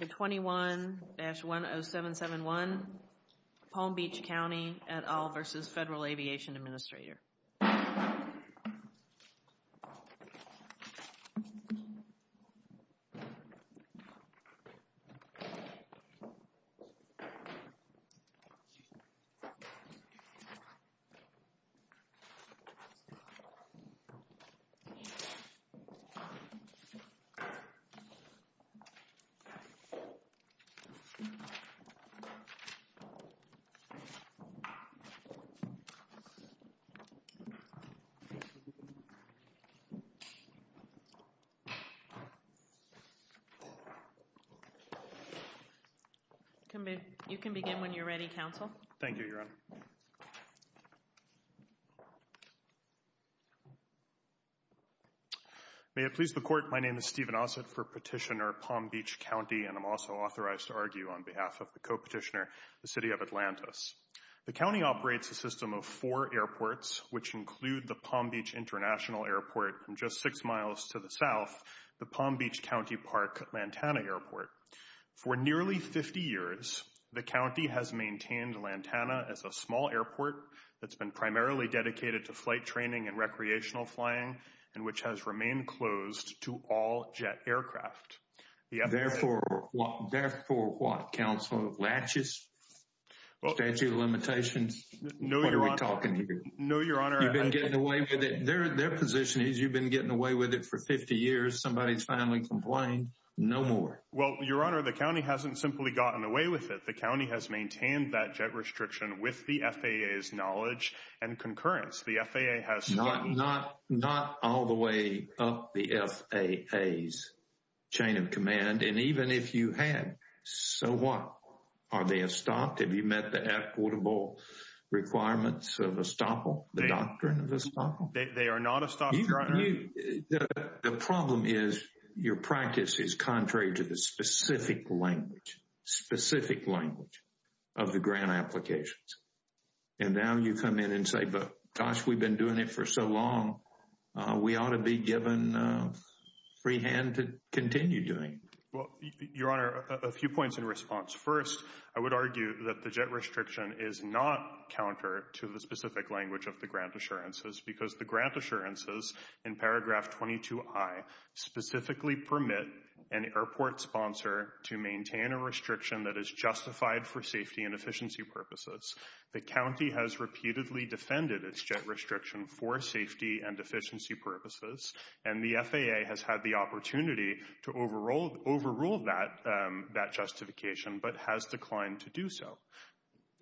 21-10771 Palm Beach County et al versus Federal Aviation Administrator. 21-10771 Palm Beach County et al versus Federal Aviation Administrator You can begin when you're ready, Council. Thank you, Your Honor. May it please the Court, my name is Stephen Ossett for Petitioner, Palm Beach County and I'm also authorized to argue on behalf of the co-petitioner, the City of Atlantis. The county operates a system of four airports which include the Palm Beach International Airport from just six miles to the south, the Palm Beach County Park-Lantana Airport. For nearly 50 years, the county has maintained Lantana as a small airport that's been primarily dedicated to flight training and recreational flying and which has remained closed to all jet aircraft. Therefore, what, therefore what, Council of Latches, Statute of Limitations, what are we talking here? No, Your Honor. You've been getting away with it. Their position is you've been getting away with it for 50 years, somebody's finally complained, no more. Well, Your Honor, the county hasn't simply gotten away with it. The county has maintained that jet restriction with the FAA's knowledge and concurrence. The FAA has... Not all the way up the FAA's chain of command and even if you had, so what? Are they estopped? Have you met the equitable requirements of estoppel, the doctrine of estoppel? They are not estopped, Your Honor. The problem is your practice is contrary to the specific language, specific language of the grant applications. And now you come in and say, but gosh, we've been doing it for so long. We ought to be given free hand to continue doing it. Well, Your Honor, a few points in response. First, I would argue that the jet restriction is not counter to the specific language of the grant assurances because the grant assurances in paragraph 22i specifically permit an airport sponsor to maintain a restriction that is justified for safety and efficiency purposes. The county has repeatedly defended its jet restriction for safety and efficiency purposes and the FAA has had the opportunity to overrule that justification but has declined to do so.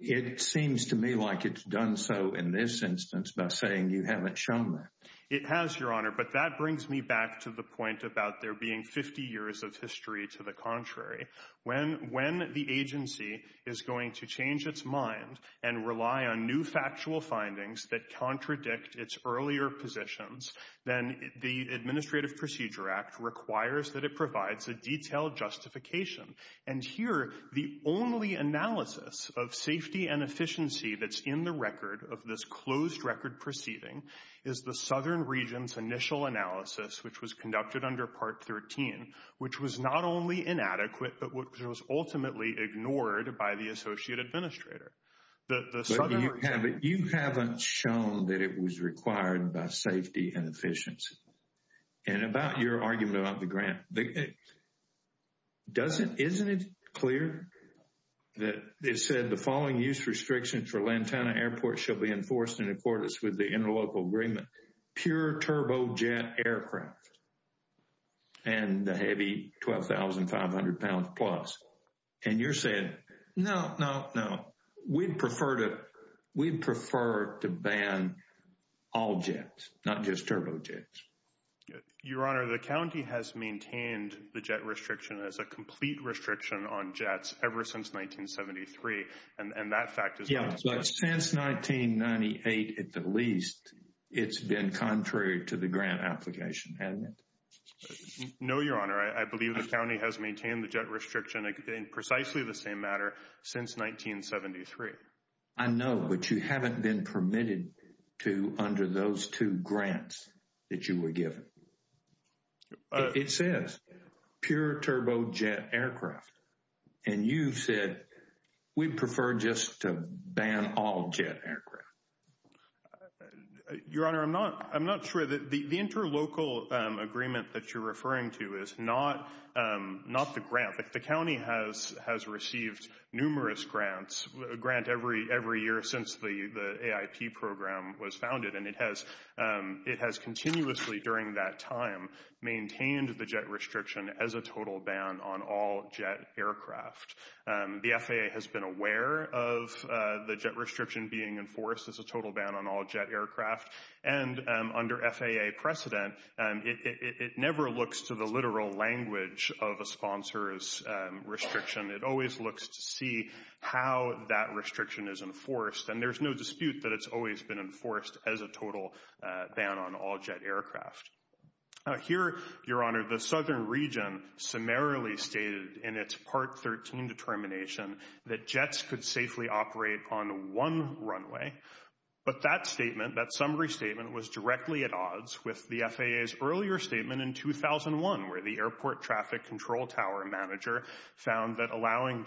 It seems to me like it's done so in this instance by saying you haven't shown that. It has, Your Honor, but that brings me back to the point about there being 50 years of the contrary. When the agency is going to change its mind and rely on new factual findings that contradict its earlier positions, then the Administrative Procedure Act requires that it provides a detailed justification. And here, the only analysis of safety and efficiency that's in the record of this closed record proceeding is the Southern Region's initial analysis, which was conducted under Part 13, which was not only inadequate, but which was ultimately ignored by the Associate Administrator. But you haven't shown that it was required by safety and efficiency. And about your argument about the grant, isn't it clear that it said the following use restrictions for Lantana Airport shall be enforced in accordance with the interlocal agreement, pure turbojet aircraft and the heavy 12,500 pounds plus? And you're saying, no, no, no, we'd prefer to ban all jets, not just turbojets. Your Honor, the county has maintained the jet restriction as a complete restriction on jets ever since 1973. And that fact is- But since 1998, at the least, it's been contrary to the grant application, hasn't it? No, Your Honor. I believe the county has maintained the jet restriction in precisely the same manner since 1973. I know, but you haven't been permitted to under those two grants that you were given. It says pure turbojet aircraft, and you said we'd prefer just to ban all jet aircraft. Your Honor, I'm not sure that the interlocal agreement that you're referring to is not the grant. The county has received numerous grants, a grant every year since the AIP program was founded. And it has continuously, during that time, maintained the jet restriction as a total ban on all jet aircraft. The FAA has been aware of the jet restriction being enforced as a total ban on all jet aircraft. And under FAA precedent, it never looks to the literal language of a sponsor's restriction. It always looks to see how that restriction is enforced. And there's no dispute that it's always been enforced as a total ban on all jet aircraft. Here, Your Honor, the Southern Region summarily stated in its Part 13 determination that jets could safely operate on one runway. But that statement, that summary statement, was directly at odds with the FAA's earlier statement in 2001, where the airport traffic control tower manager found that allowing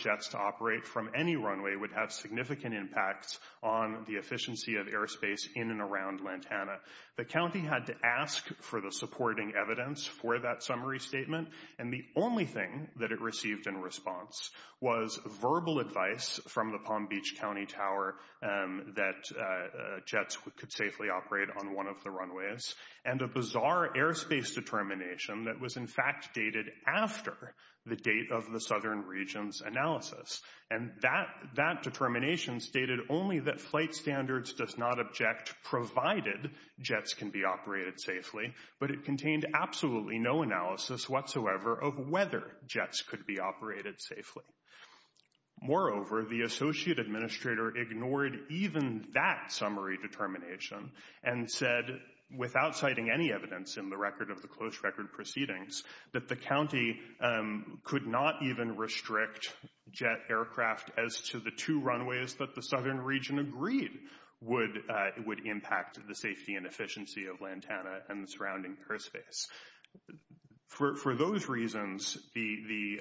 on the efficiency of airspace in and around Lantana. The county had to ask for the supporting evidence for that summary statement. And the only thing that it received in response was verbal advice from the Palm Beach County Tower that jets could safely operate on one of the runways, and a bizarre airspace determination that was in fact dated after the date of the Southern Region's analysis. And that determination stated only that flight standards does not object provided jets can be operated safely, but it contained absolutely no analysis whatsoever of whether jets could be operated safely. Moreover, the associate administrator ignored even that summary determination and said, without citing any evidence in the record of the close record proceedings, that the aircraft as to the two runways that the Southern Region agreed would impact the safety and efficiency of Lantana and the surrounding airspace. For those reasons, the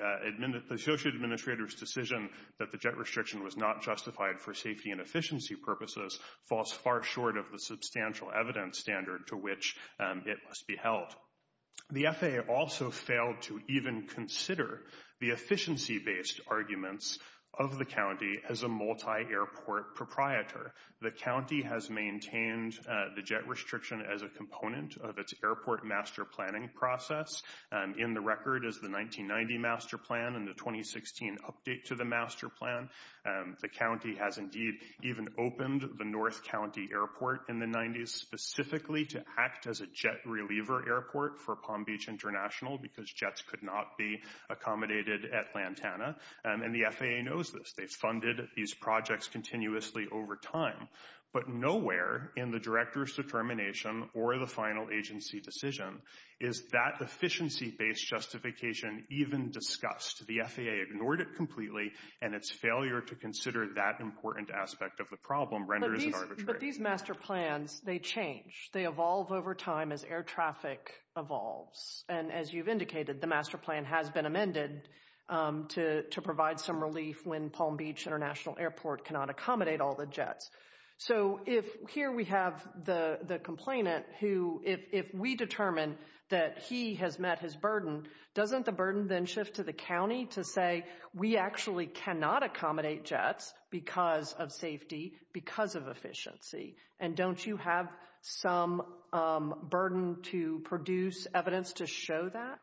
associate administrator's decision that the jet restriction was not justified for safety and efficiency purposes falls far short of the substantial evidence standard to which it must be held. The FAA also failed to even consider the efficiency-based arguments of the county as a multi-airport proprietor. The county has maintained the jet restriction as a component of its airport master planning process. In the record is the 1990 master plan and the 2016 update to the master plan. The county has indeed even opened the North County Airport in the 90s specifically to the Jet Reliever Airport for Palm Beach International because jets could not be accommodated at Lantana. And the FAA knows this. They funded these projects continuously over time. But nowhere in the director's determination or the final agency decision is that efficiency-based justification even discussed. The FAA ignored it completely and its failure to consider that important aspect of the problem renders it arbitrary. But these master plans, they change. They evolve over time as air traffic evolves. And as you've indicated, the master plan has been amended to provide some relief when Palm Beach International Airport cannot accommodate all the jets. So if here we have the complainant who, if we determine that he has met his burden, doesn't the burden then shift to the county to say, we actually cannot accommodate jets because of safety, because of efficiency. And don't you have some burden to produce evidence to show that?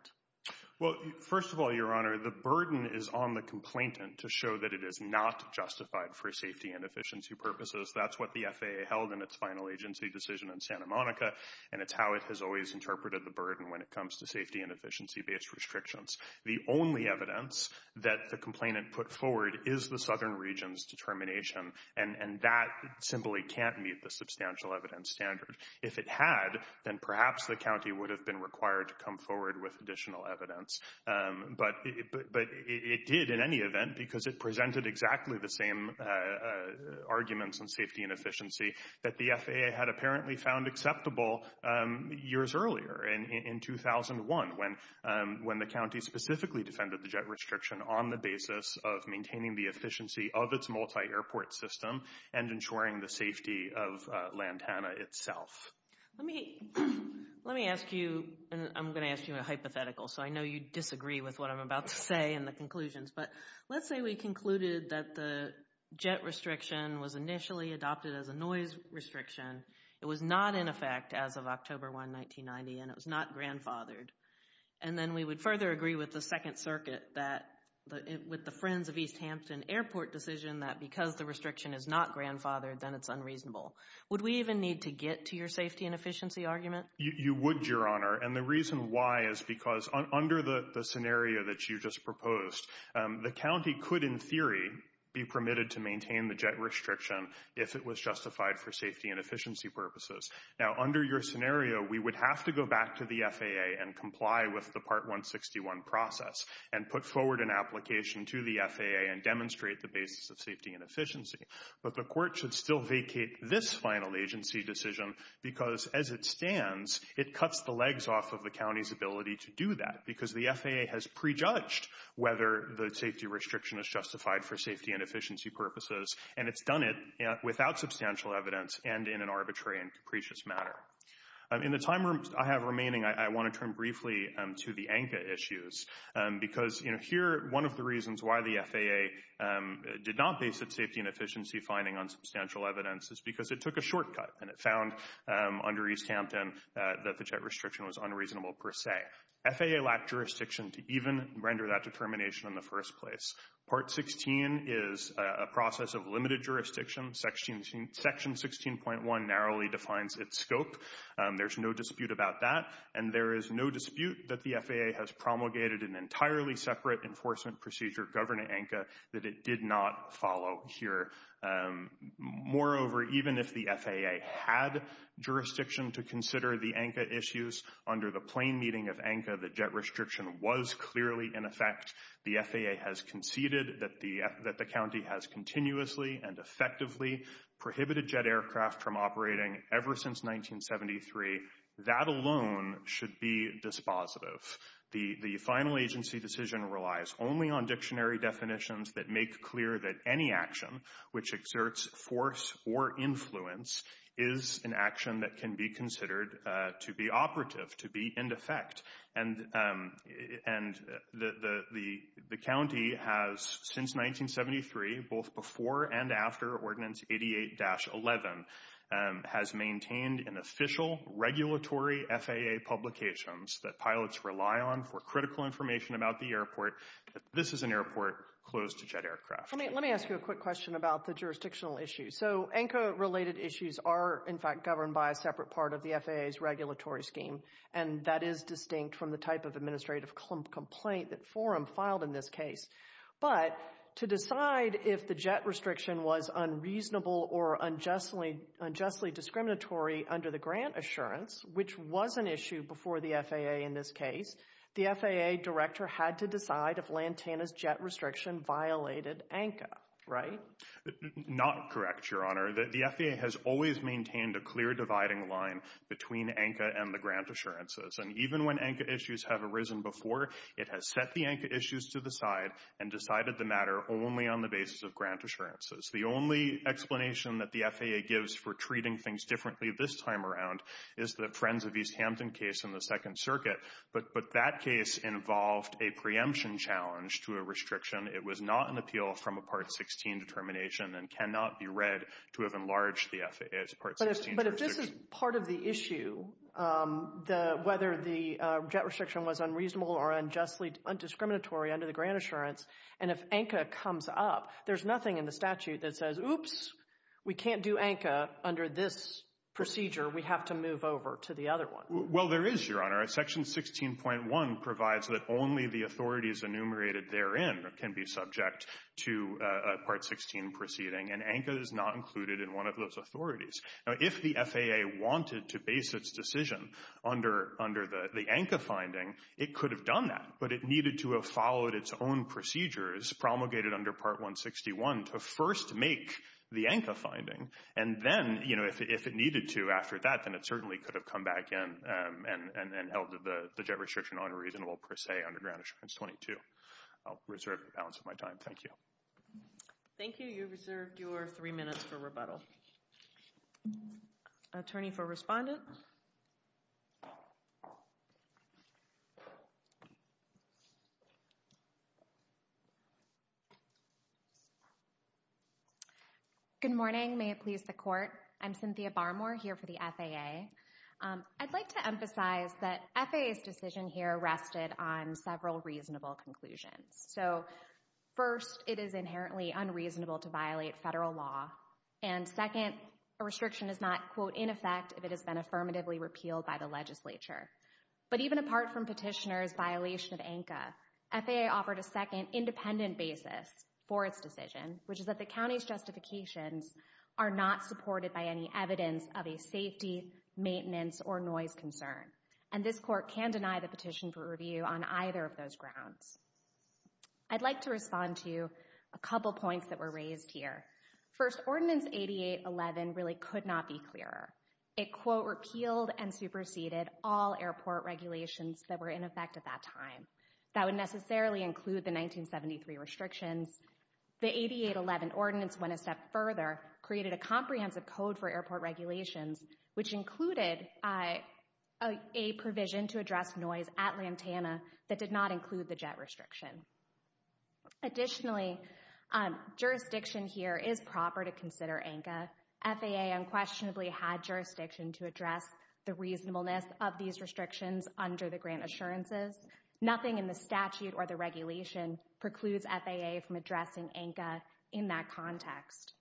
Well, first of all, Your Honor, the burden is on the complainant to show that it is not justified for safety and efficiency purposes. That's what the FAA held in its final agency decision in Santa Monica. And it's how it has always interpreted the burden when it comes to safety and efficiency-based restrictions. The only evidence that the complainant put forward is the Southern Region's determination. And that simply can't meet the substantial evidence standard. If it had, then perhaps the county would have been required to come forward with additional evidence. But it did in any event because it presented exactly the same arguments on safety and efficiency that the FAA had apparently found acceptable years earlier, in 2001, when the county specifically defended the jet restriction on the basis of maintaining the efficiency of its multi-airport system and ensuring the safety of Lantana itself. Let me ask you, and I'm going to ask you a hypothetical, so I know you disagree with what I'm about to say in the conclusions, but let's say we concluded that the jet restriction was initially adopted as a noise restriction. It was not in effect as of October 1, 1990, and it was not grandfathered. And then we would further agree with the Second Circuit that, with the Friends of East Hampton Airport decision, that because the restriction is not grandfathered, then it's unreasonable. Would we even need to get to your safety and efficiency argument? You would, Your Honor. And the reason why is because under the scenario that you just proposed, the county could in theory be permitted to maintain the jet restriction if it was justified for safety and efficiency purposes. Now under your scenario, we would have to go back to the FAA and comply with the Part the basis of safety and efficiency, but the court should still vacate this final agency decision because, as it stands, it cuts the legs off of the county's ability to do that because the FAA has prejudged whether the safety restriction is justified for safety and efficiency purposes, and it's done it without substantial evidence and in an arbitrary and capricious manner. In the time I have remaining, I want to turn briefly to the ANCA issues because here, one of the reasons why the FAA did not base its safety and efficiency finding on substantial evidence is because it took a shortcut, and it found under East Hampton that the jet restriction was unreasonable per se. FAA lacked jurisdiction to even render that determination in the first place. Part 16 is a process of limited jurisdiction. Section 16.1 narrowly defines its scope. There's no dispute about that, and there is no dispute that the FAA has promulgated an ANCA procedure governing ANCA that it did not follow here. Moreover, even if the FAA had jurisdiction to consider the ANCA issues under the plane meeting of ANCA, the jet restriction was clearly in effect. The FAA has conceded that the county has continuously and effectively prohibited jet aircraft from operating ever since 1973. That alone should be dispositive. The final agency decision relies only on dictionary definitions that make clear that any action which exerts force or influence is an action that can be considered to be operative, to be in effect. And the county has, since 1973, both before and after Ordinance 88-11, has maintained in official regulatory FAA publications that pilots rely on for critical information about the airport that this is an airport closed to jet aircraft. Let me ask you a quick question about the jurisdictional issues. So ANCA-related issues are, in fact, governed by a separate part of the FAA's regulatory scheme, and that is distinct from the type of administrative complaint that forum filed in this case. But to decide if the jet restriction was unreasonable or unjustly discriminatory under the grant assurance, which was an issue before the FAA in this case, the FAA director had to decide if Lantana's jet restriction violated ANCA, right? Not correct, Your Honor. The FAA has always maintained a clear dividing line between ANCA and the grant assurances. And even when ANCA issues have arisen before, it has set the ANCA issues to the side and decided the matter only on the basis of grant assurances. The only explanation that the FAA gives for treating things differently this time around is the Friends of East Hampton case in the Second Circuit, but that case involved a preemption challenge to a restriction. It was not an appeal from a Part 16 determination and cannot be read to have enlarged the FAA's Part 16 restriction. But if this is part of the issue, whether the jet restriction was unreasonable or unjustly undiscriminatory under the grant assurance, and if ANCA comes up, there's nothing in the statute that says, oops, we can't do ANCA under this procedure. We have to move over to the other one. Well, there is, Your Honor. Section 16.1 provides that only the authorities enumerated therein can be subject to a Part 16 proceeding, and ANCA is not included in one of those authorities. Now, if the FAA wanted to base its decision under the ANCA finding, it could have done that, but it needed to have followed its own procedures promulgated under Part 161 to first make the ANCA finding. And then, you know, if it needed to after that, then it certainly could have come back in and held the jet restriction unreasonable per se under grant assurance 22. I'll reserve the balance of my time. Thank you. Thank you. You reserved your three minutes for rebuttal. Attorney for Respondent. Good morning. May it please the Court. I'm Cynthia Barmore here for the FAA. I'd like to emphasize that FAA's decision here rested on several reasonable conclusions. So, first, it is inherently unreasonable to violate federal law, and second, a restriction is not, quote, in effect if it has been affirmatively repealed by the legislature. But even apart from Petitioner's violation of ANCA, FAA offered a second independent basis for its decision, which is that the county's justifications are not supported by any evidence of a safety, maintenance, or noise concern. And this Court can deny the petition for review on either of those grounds. I'd like to respond to a couple points that were raised here. First, Ordinance 8811 really could not be clearer. It, quote, repealed and superseded all airport regulations that were in effect at that time. That would necessarily include the 1973 restrictions. The 8811 Ordinance went a step further, created a comprehensive code for airport regulations, which included a provision to address noise at Lantana that did not include the jet restriction. Additionally, jurisdiction here is proper to consider ANCA. FAA unquestionably had jurisdiction to address the reasonableness of these restrictions under the grant assurances. Nothing in the statute or the regulation precludes FAA from addressing ANCA in that context.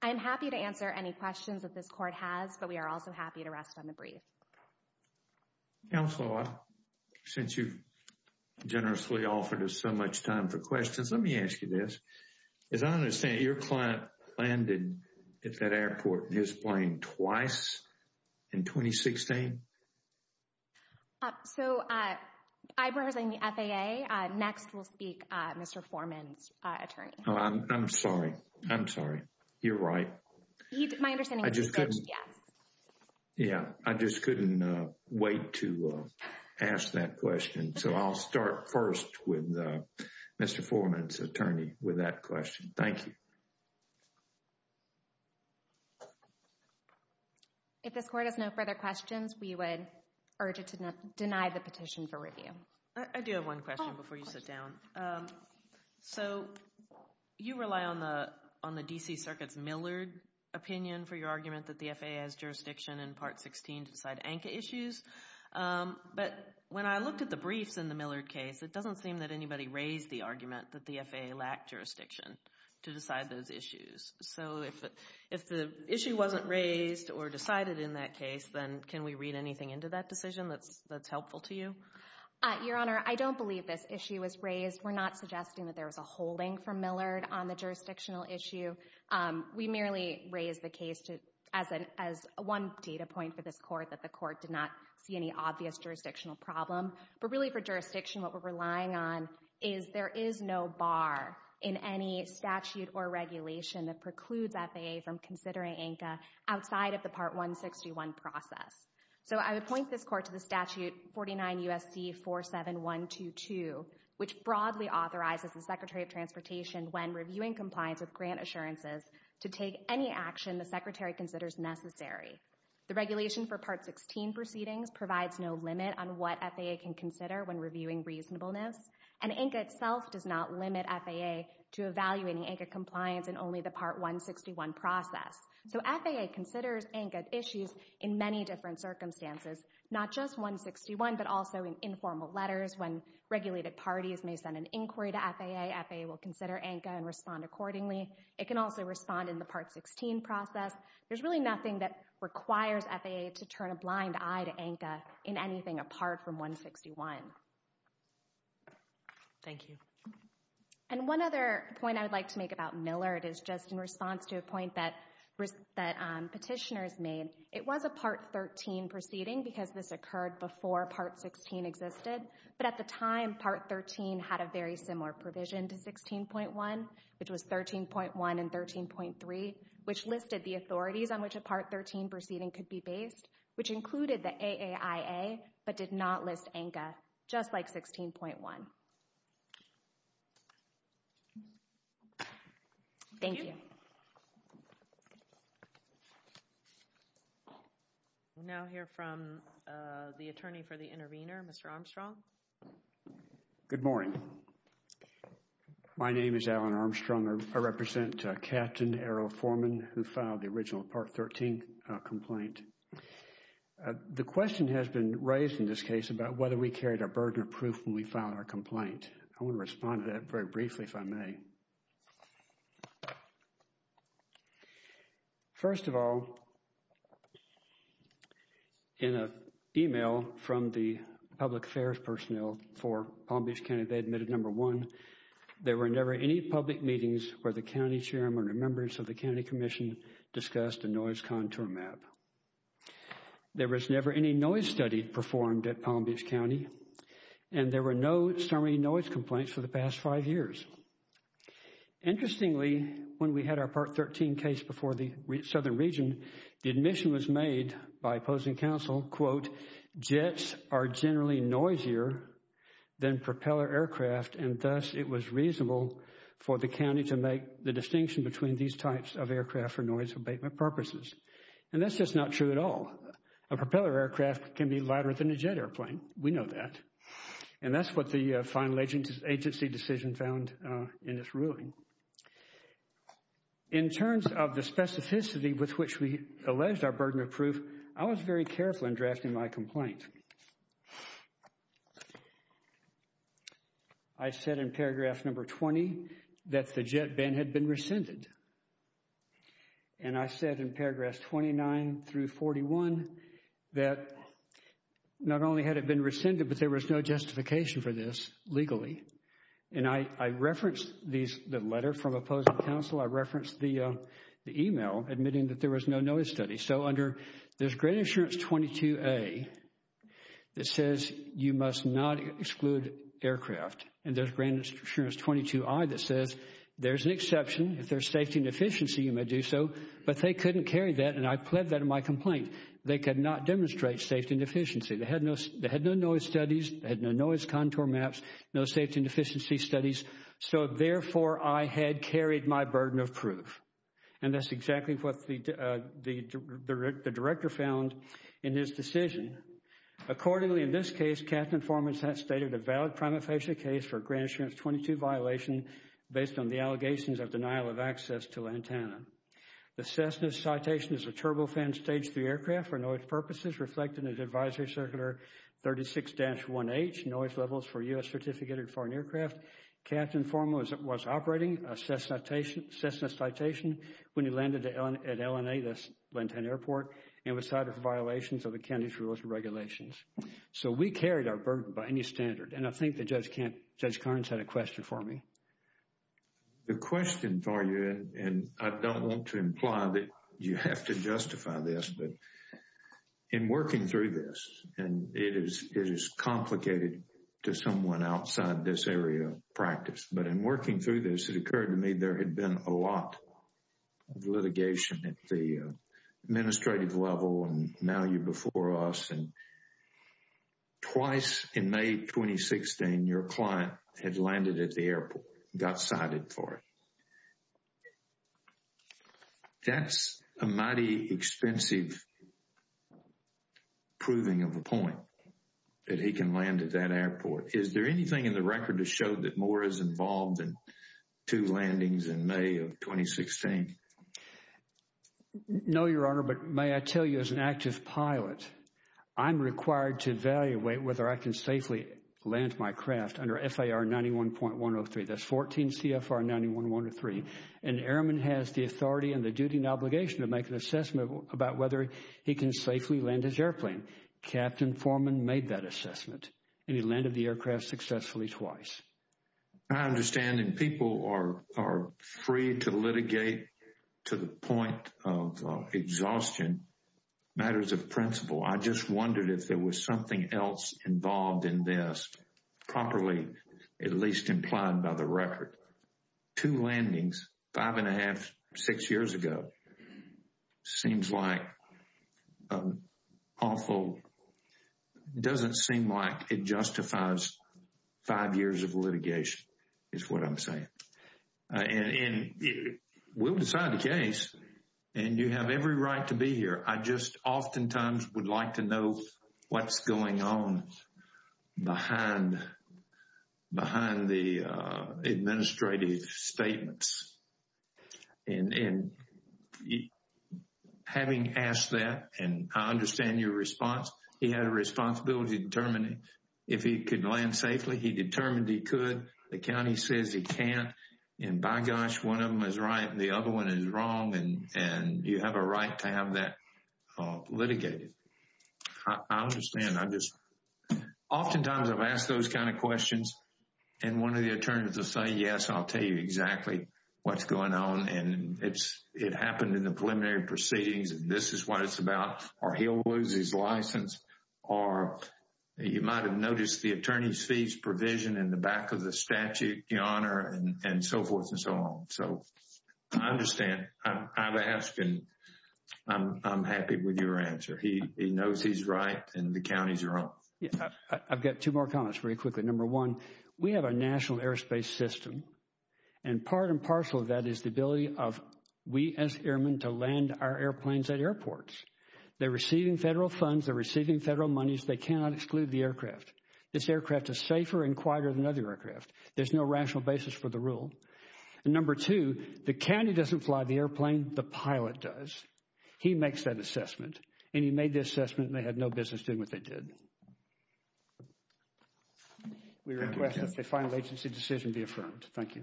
I'm happy to answer any questions that this Court has, but we are also happy to rest on the brief. Thank you. Counselor, since you've generously offered us so much time for questions, let me ask you this. As I understand it, your client landed at that airport in his plane twice in 2016? So, I represent the FAA. Next, we'll speak to Mr. Foreman's attorney. Oh, I'm sorry. I'm sorry. You're right. My understanding is he said yes. Yeah, I just couldn't wait to ask that question. So, I'll start first with Mr. Foreman's attorney with that question. Thank you. If this Court has no further questions, we would urge it to deny the petition for review. I do have one question before you sit down. So, you rely on the D.C. Circuit's Millard opinion for your argument that the FAA has jurisdiction in Part 16 to decide ANCA issues, but when I looked at the briefs in the Millard case, it doesn't seem that anybody raised the argument that the FAA lacked jurisdiction to decide those issues. So, if the issue wasn't raised or decided in that case, then can we read anything into that decision that's helpful to you? Your Honor, I don't believe this issue was raised. We're not suggesting that there was a holding from Millard on the jurisdictional issue. We merely raised the case as one data point for this Court that the Court did not see any obvious jurisdictional problem. But really for jurisdiction, what we're relying on is there is no bar in any statute or regulation that precludes FAA from considering ANCA outside of the Part 161 process. So, I would point this Court to the Statute 49 U.S.C. 47122, which broadly authorizes the Secretary of Transportation when reviewing compliance with grant assurances to take any action the Secretary considers necessary. The regulation for Part 16 proceedings provides no limit on what FAA can consider when reviewing reasonableness, and ANCA itself does not limit FAA to evaluating ANCA compliance in only the Part 161 process. So, FAA considers ANCA issues in many different circumstances, not just 161, but also in informal letters when regulated parties may send an inquiry to FAA, FAA will consider ANCA and respond accordingly. It can also respond in the Part 16 process. There's really nothing that requires FAA to turn a blind eye to ANCA in anything apart from 161. Thank you. And one other point I would like to make about Millard is just in response to a point that that petitioners made, it was a Part 13 proceeding because this occurred before Part 16 existed, but at the time Part 13 had a very similar provision to 16.1, which was 13.1 and 13.3, which listed the authorities on which a Part 13 proceeding could be based, which included the AAIA, but did not list ANCA, just like 16.1. Thank you. We'll now hear from the attorney for the intervener, Mr. Armstrong. Good morning. My name is Alan Armstrong. I represent Captain Errol Foreman, who filed the original Part 13 complaint. The question has been raised in this case about whether we carried a burden of proof when we filed our complaint. I want to respond to that very briefly, if I may. First of all, in an email from the public affairs personnel for Palm Beach County, they admitted, number one, there were never any public meetings where the county chairman or members of the county commission discussed a noise contour map. There was never any noise study performed at Palm Beach County, and there were no summary noise complaints for the past five years. Interestingly, when we had our Part 13 case before the southern region, the admission was made by opposing counsel, quote, jets are generally noisier than propeller aircraft, and thus it was reasonable for the county to make the distinction between these types of aircraft for noise abatement purposes. And that's just not true at all. A propeller aircraft can be lighter than a jet airplane. We know that. And that's what the final agency decision found in this ruling. In terms of the specificity with which we alleged our burden of proof, I was very careful in drafting my complaint. I said in paragraph number 20 that the jet ban had been rescinded. And I said in paragraphs 29 through 41 that not only had it been rescinded, but there was no justification for this legally. And I referenced the letter from opposing counsel. I referenced the email admitting that there was no noise study. So under, there's Grant Insurance 22A that says you must not exclude aircraft, and there's Grant Insurance 22I that says there's an exception. If there's safety and efficiency, you may do so. But they couldn't carry that. And I pled that in my complaint. They could not demonstrate safety and efficiency. They had no noise studies. They had no noise contour maps, no safety and efficiency studies. So therefore, I had carried my burden of proof. And that's exactly what the director found in his decision. Accordingly, in this case, Captain Foreman stated a valid prima facie case for Grant Insurance 22 violation based on the allegations of denial of access to Lantana. The Cessna's citation is a turbofan stage three aircraft for noise purposes reflected in Advisory Circular 36-1H, Noise Levels for U.S. Certificated Foreign Aircraft. Captain Foreman was operating a Cessna citation when he landed at L&A, the Lantana airport, and was cited for violations of the county's rules and regulations. So we carried our burden by any standard. And I think that Judge Carnes had a question for me. The question for you, and I don't want to imply that you have to justify this, but in working through this, and it is complicated to someone outside this area of practice, but in working through this, it occurred to me there had been a lot of litigation at the your client had landed at the airport, got cited for it. That's a mighty expensive proving of a point that he can land at that airport. Is there anything in the record to show that more is involved in two landings in May of 2016? No, Your Honor, but may I tell you as an active pilot, I'm required to evaluate whether I can safely land my craft under FAR 91.103. That's 14 CFR 91.103. An airman has the authority and the duty and obligation to make an assessment about whether he can safely land his airplane. Captain Foreman made that assessment, and he landed the aircraft successfully twice. I understand, and people are free to litigate to the point of exhaustion matters of principle. I just wondered if there was something else involved in this, properly, at least implied by the record. Two landings, five and a half, six years ago. Seems like awful. Doesn't seem like it justifies five years of litigation is what I'm saying. And we'll decide the case, and you have every right to be here. I just oftentimes would like to know what's going on behind the administrative statements. And having asked that, and I understand your response. He had a responsibility to determine if he could land safely. He determined he could. The county says he can't. And by gosh, one of them is right, and the other one is wrong. And you have a right to have that litigated. I understand. Oftentimes, I've asked those kind of questions, and one of the attorneys will say, yes, I'll tell you exactly what's going on. And it happened in the preliminary proceedings, and this is what it's about. Or he'll lose his license. Or he might have noticed the attorney's fees provision in the back of the statute, your honor, and so forth and so on. So I understand. I'm happy with your answer. He knows he's right, and the counties are wrong. I've got two more comments very quickly. Number one, we have a national airspace system. And part and parcel of that is the ability of we as airmen to land our airplanes at airports. They're receiving federal funds. They're receiving federal monies. They cannot exclude the aircraft. This aircraft is safer and quieter than other aircraft. There's no rational basis for the rule. And number two, the county doesn't fly the airplane. The pilot does. He makes that assessment. And he made the assessment, and they had no business doing what they did. We request that the final agency decision be affirmed. Thank you.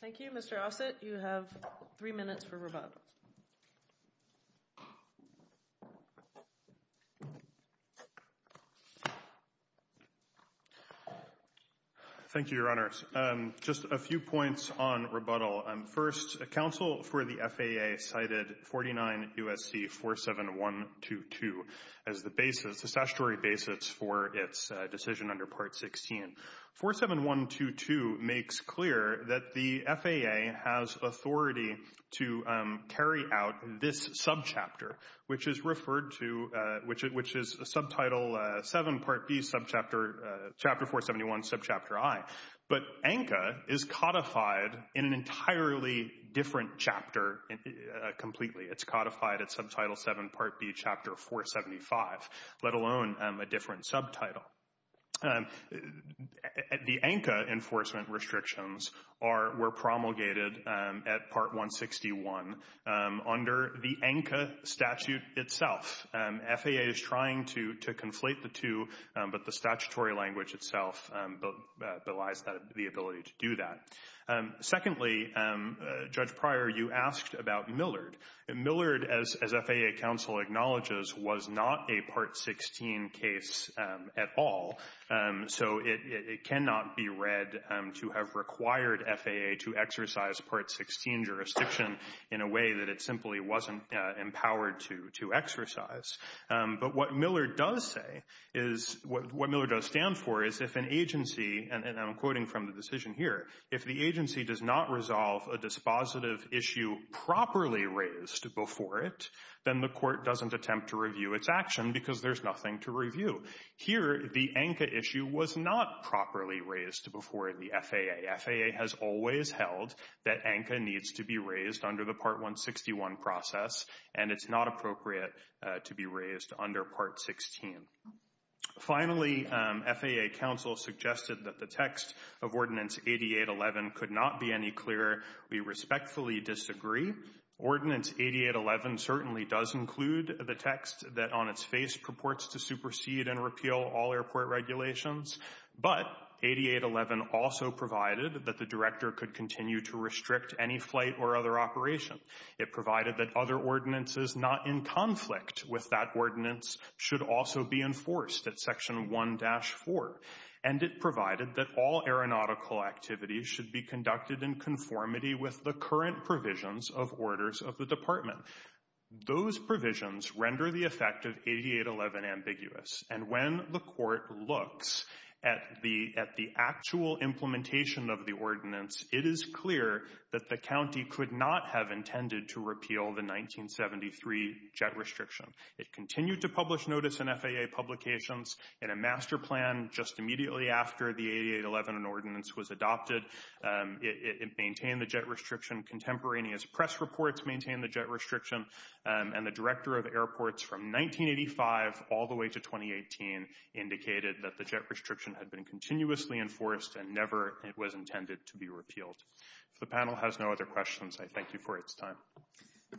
Thank you, Mr. Ossett. You have three minutes for rebuttal. Thank you, your honors. Just a few points on rebuttal. First, counsel for the FAA cited 49 USC 47122 as the statutory basis for its decision under Part 16. 47122 makes clear that the FAA has authority to carry out this subchapter, which is referred to, which is Subtitle 7, Part B, Subchapter 471, Subchapter I. But ANCA is codified in an entirely different chapter completely. It's codified at Subtitle 7, Part B, Chapter 475, let alone a different subtitle. And the ANCA enforcement restrictions were promulgated at Part 161 under the ANCA statute itself. FAA is trying to conflate the two, but the statutory language itself belies the ability to do that. Secondly, Judge Pryor, you asked about Millard. Millard, as FAA counsel acknowledges, was not a Part 16 case at all. So it cannot be read to have required FAA to exercise Part 16 jurisdiction in a way that it simply wasn't empowered to exercise. But what Millard does say is, what Millard does stand for is if an agency, and I'm quoting from the decision here, if the agency does not resolve a dispositive issue properly raised before it, then the court doesn't attempt to review its action because there's nothing to review. Here, the ANCA issue was not properly raised before the FAA. FAA has always held that ANCA needs to be raised under the Part 161 process, and it's not appropriate to be raised under Part 16. Finally, FAA counsel suggested that the text of Ordinance 8811 could not be any clearer. We respectfully disagree. Ordinance 8811 certainly does include the text that on its face purports to supersede and repeal all airport regulations, but 8811 also provided that the director could continue to restrict any flight or other operation. It provided that other ordinances not in conflict with that ordinance should also be enforced at Section 1-4, and it provided that all aeronautical activities should be conducted in conformity with the current provisions of orders of the Department. Those provisions render the effect of 8811 ambiguous, and when the court looks at the actual implementation of the ordinance, it is clear that the county could not have intended to repeal the 1973 jet restriction. It continued to publish notice in FAA publications in a master plan just immediately after the 8811 ordinance was adopted. It maintained the jet restriction. Contemporaneous press reports maintained the jet restriction, and the director of airports from 1985 all the way to 2018 indicated that the jet restriction had been continuously enforced and never it was intended to be repealed. If the panel has no other questions, I thank you for its time.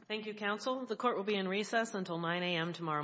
Thank you, counsel. The court will be in recess until 9 a.m. tomorrow morning.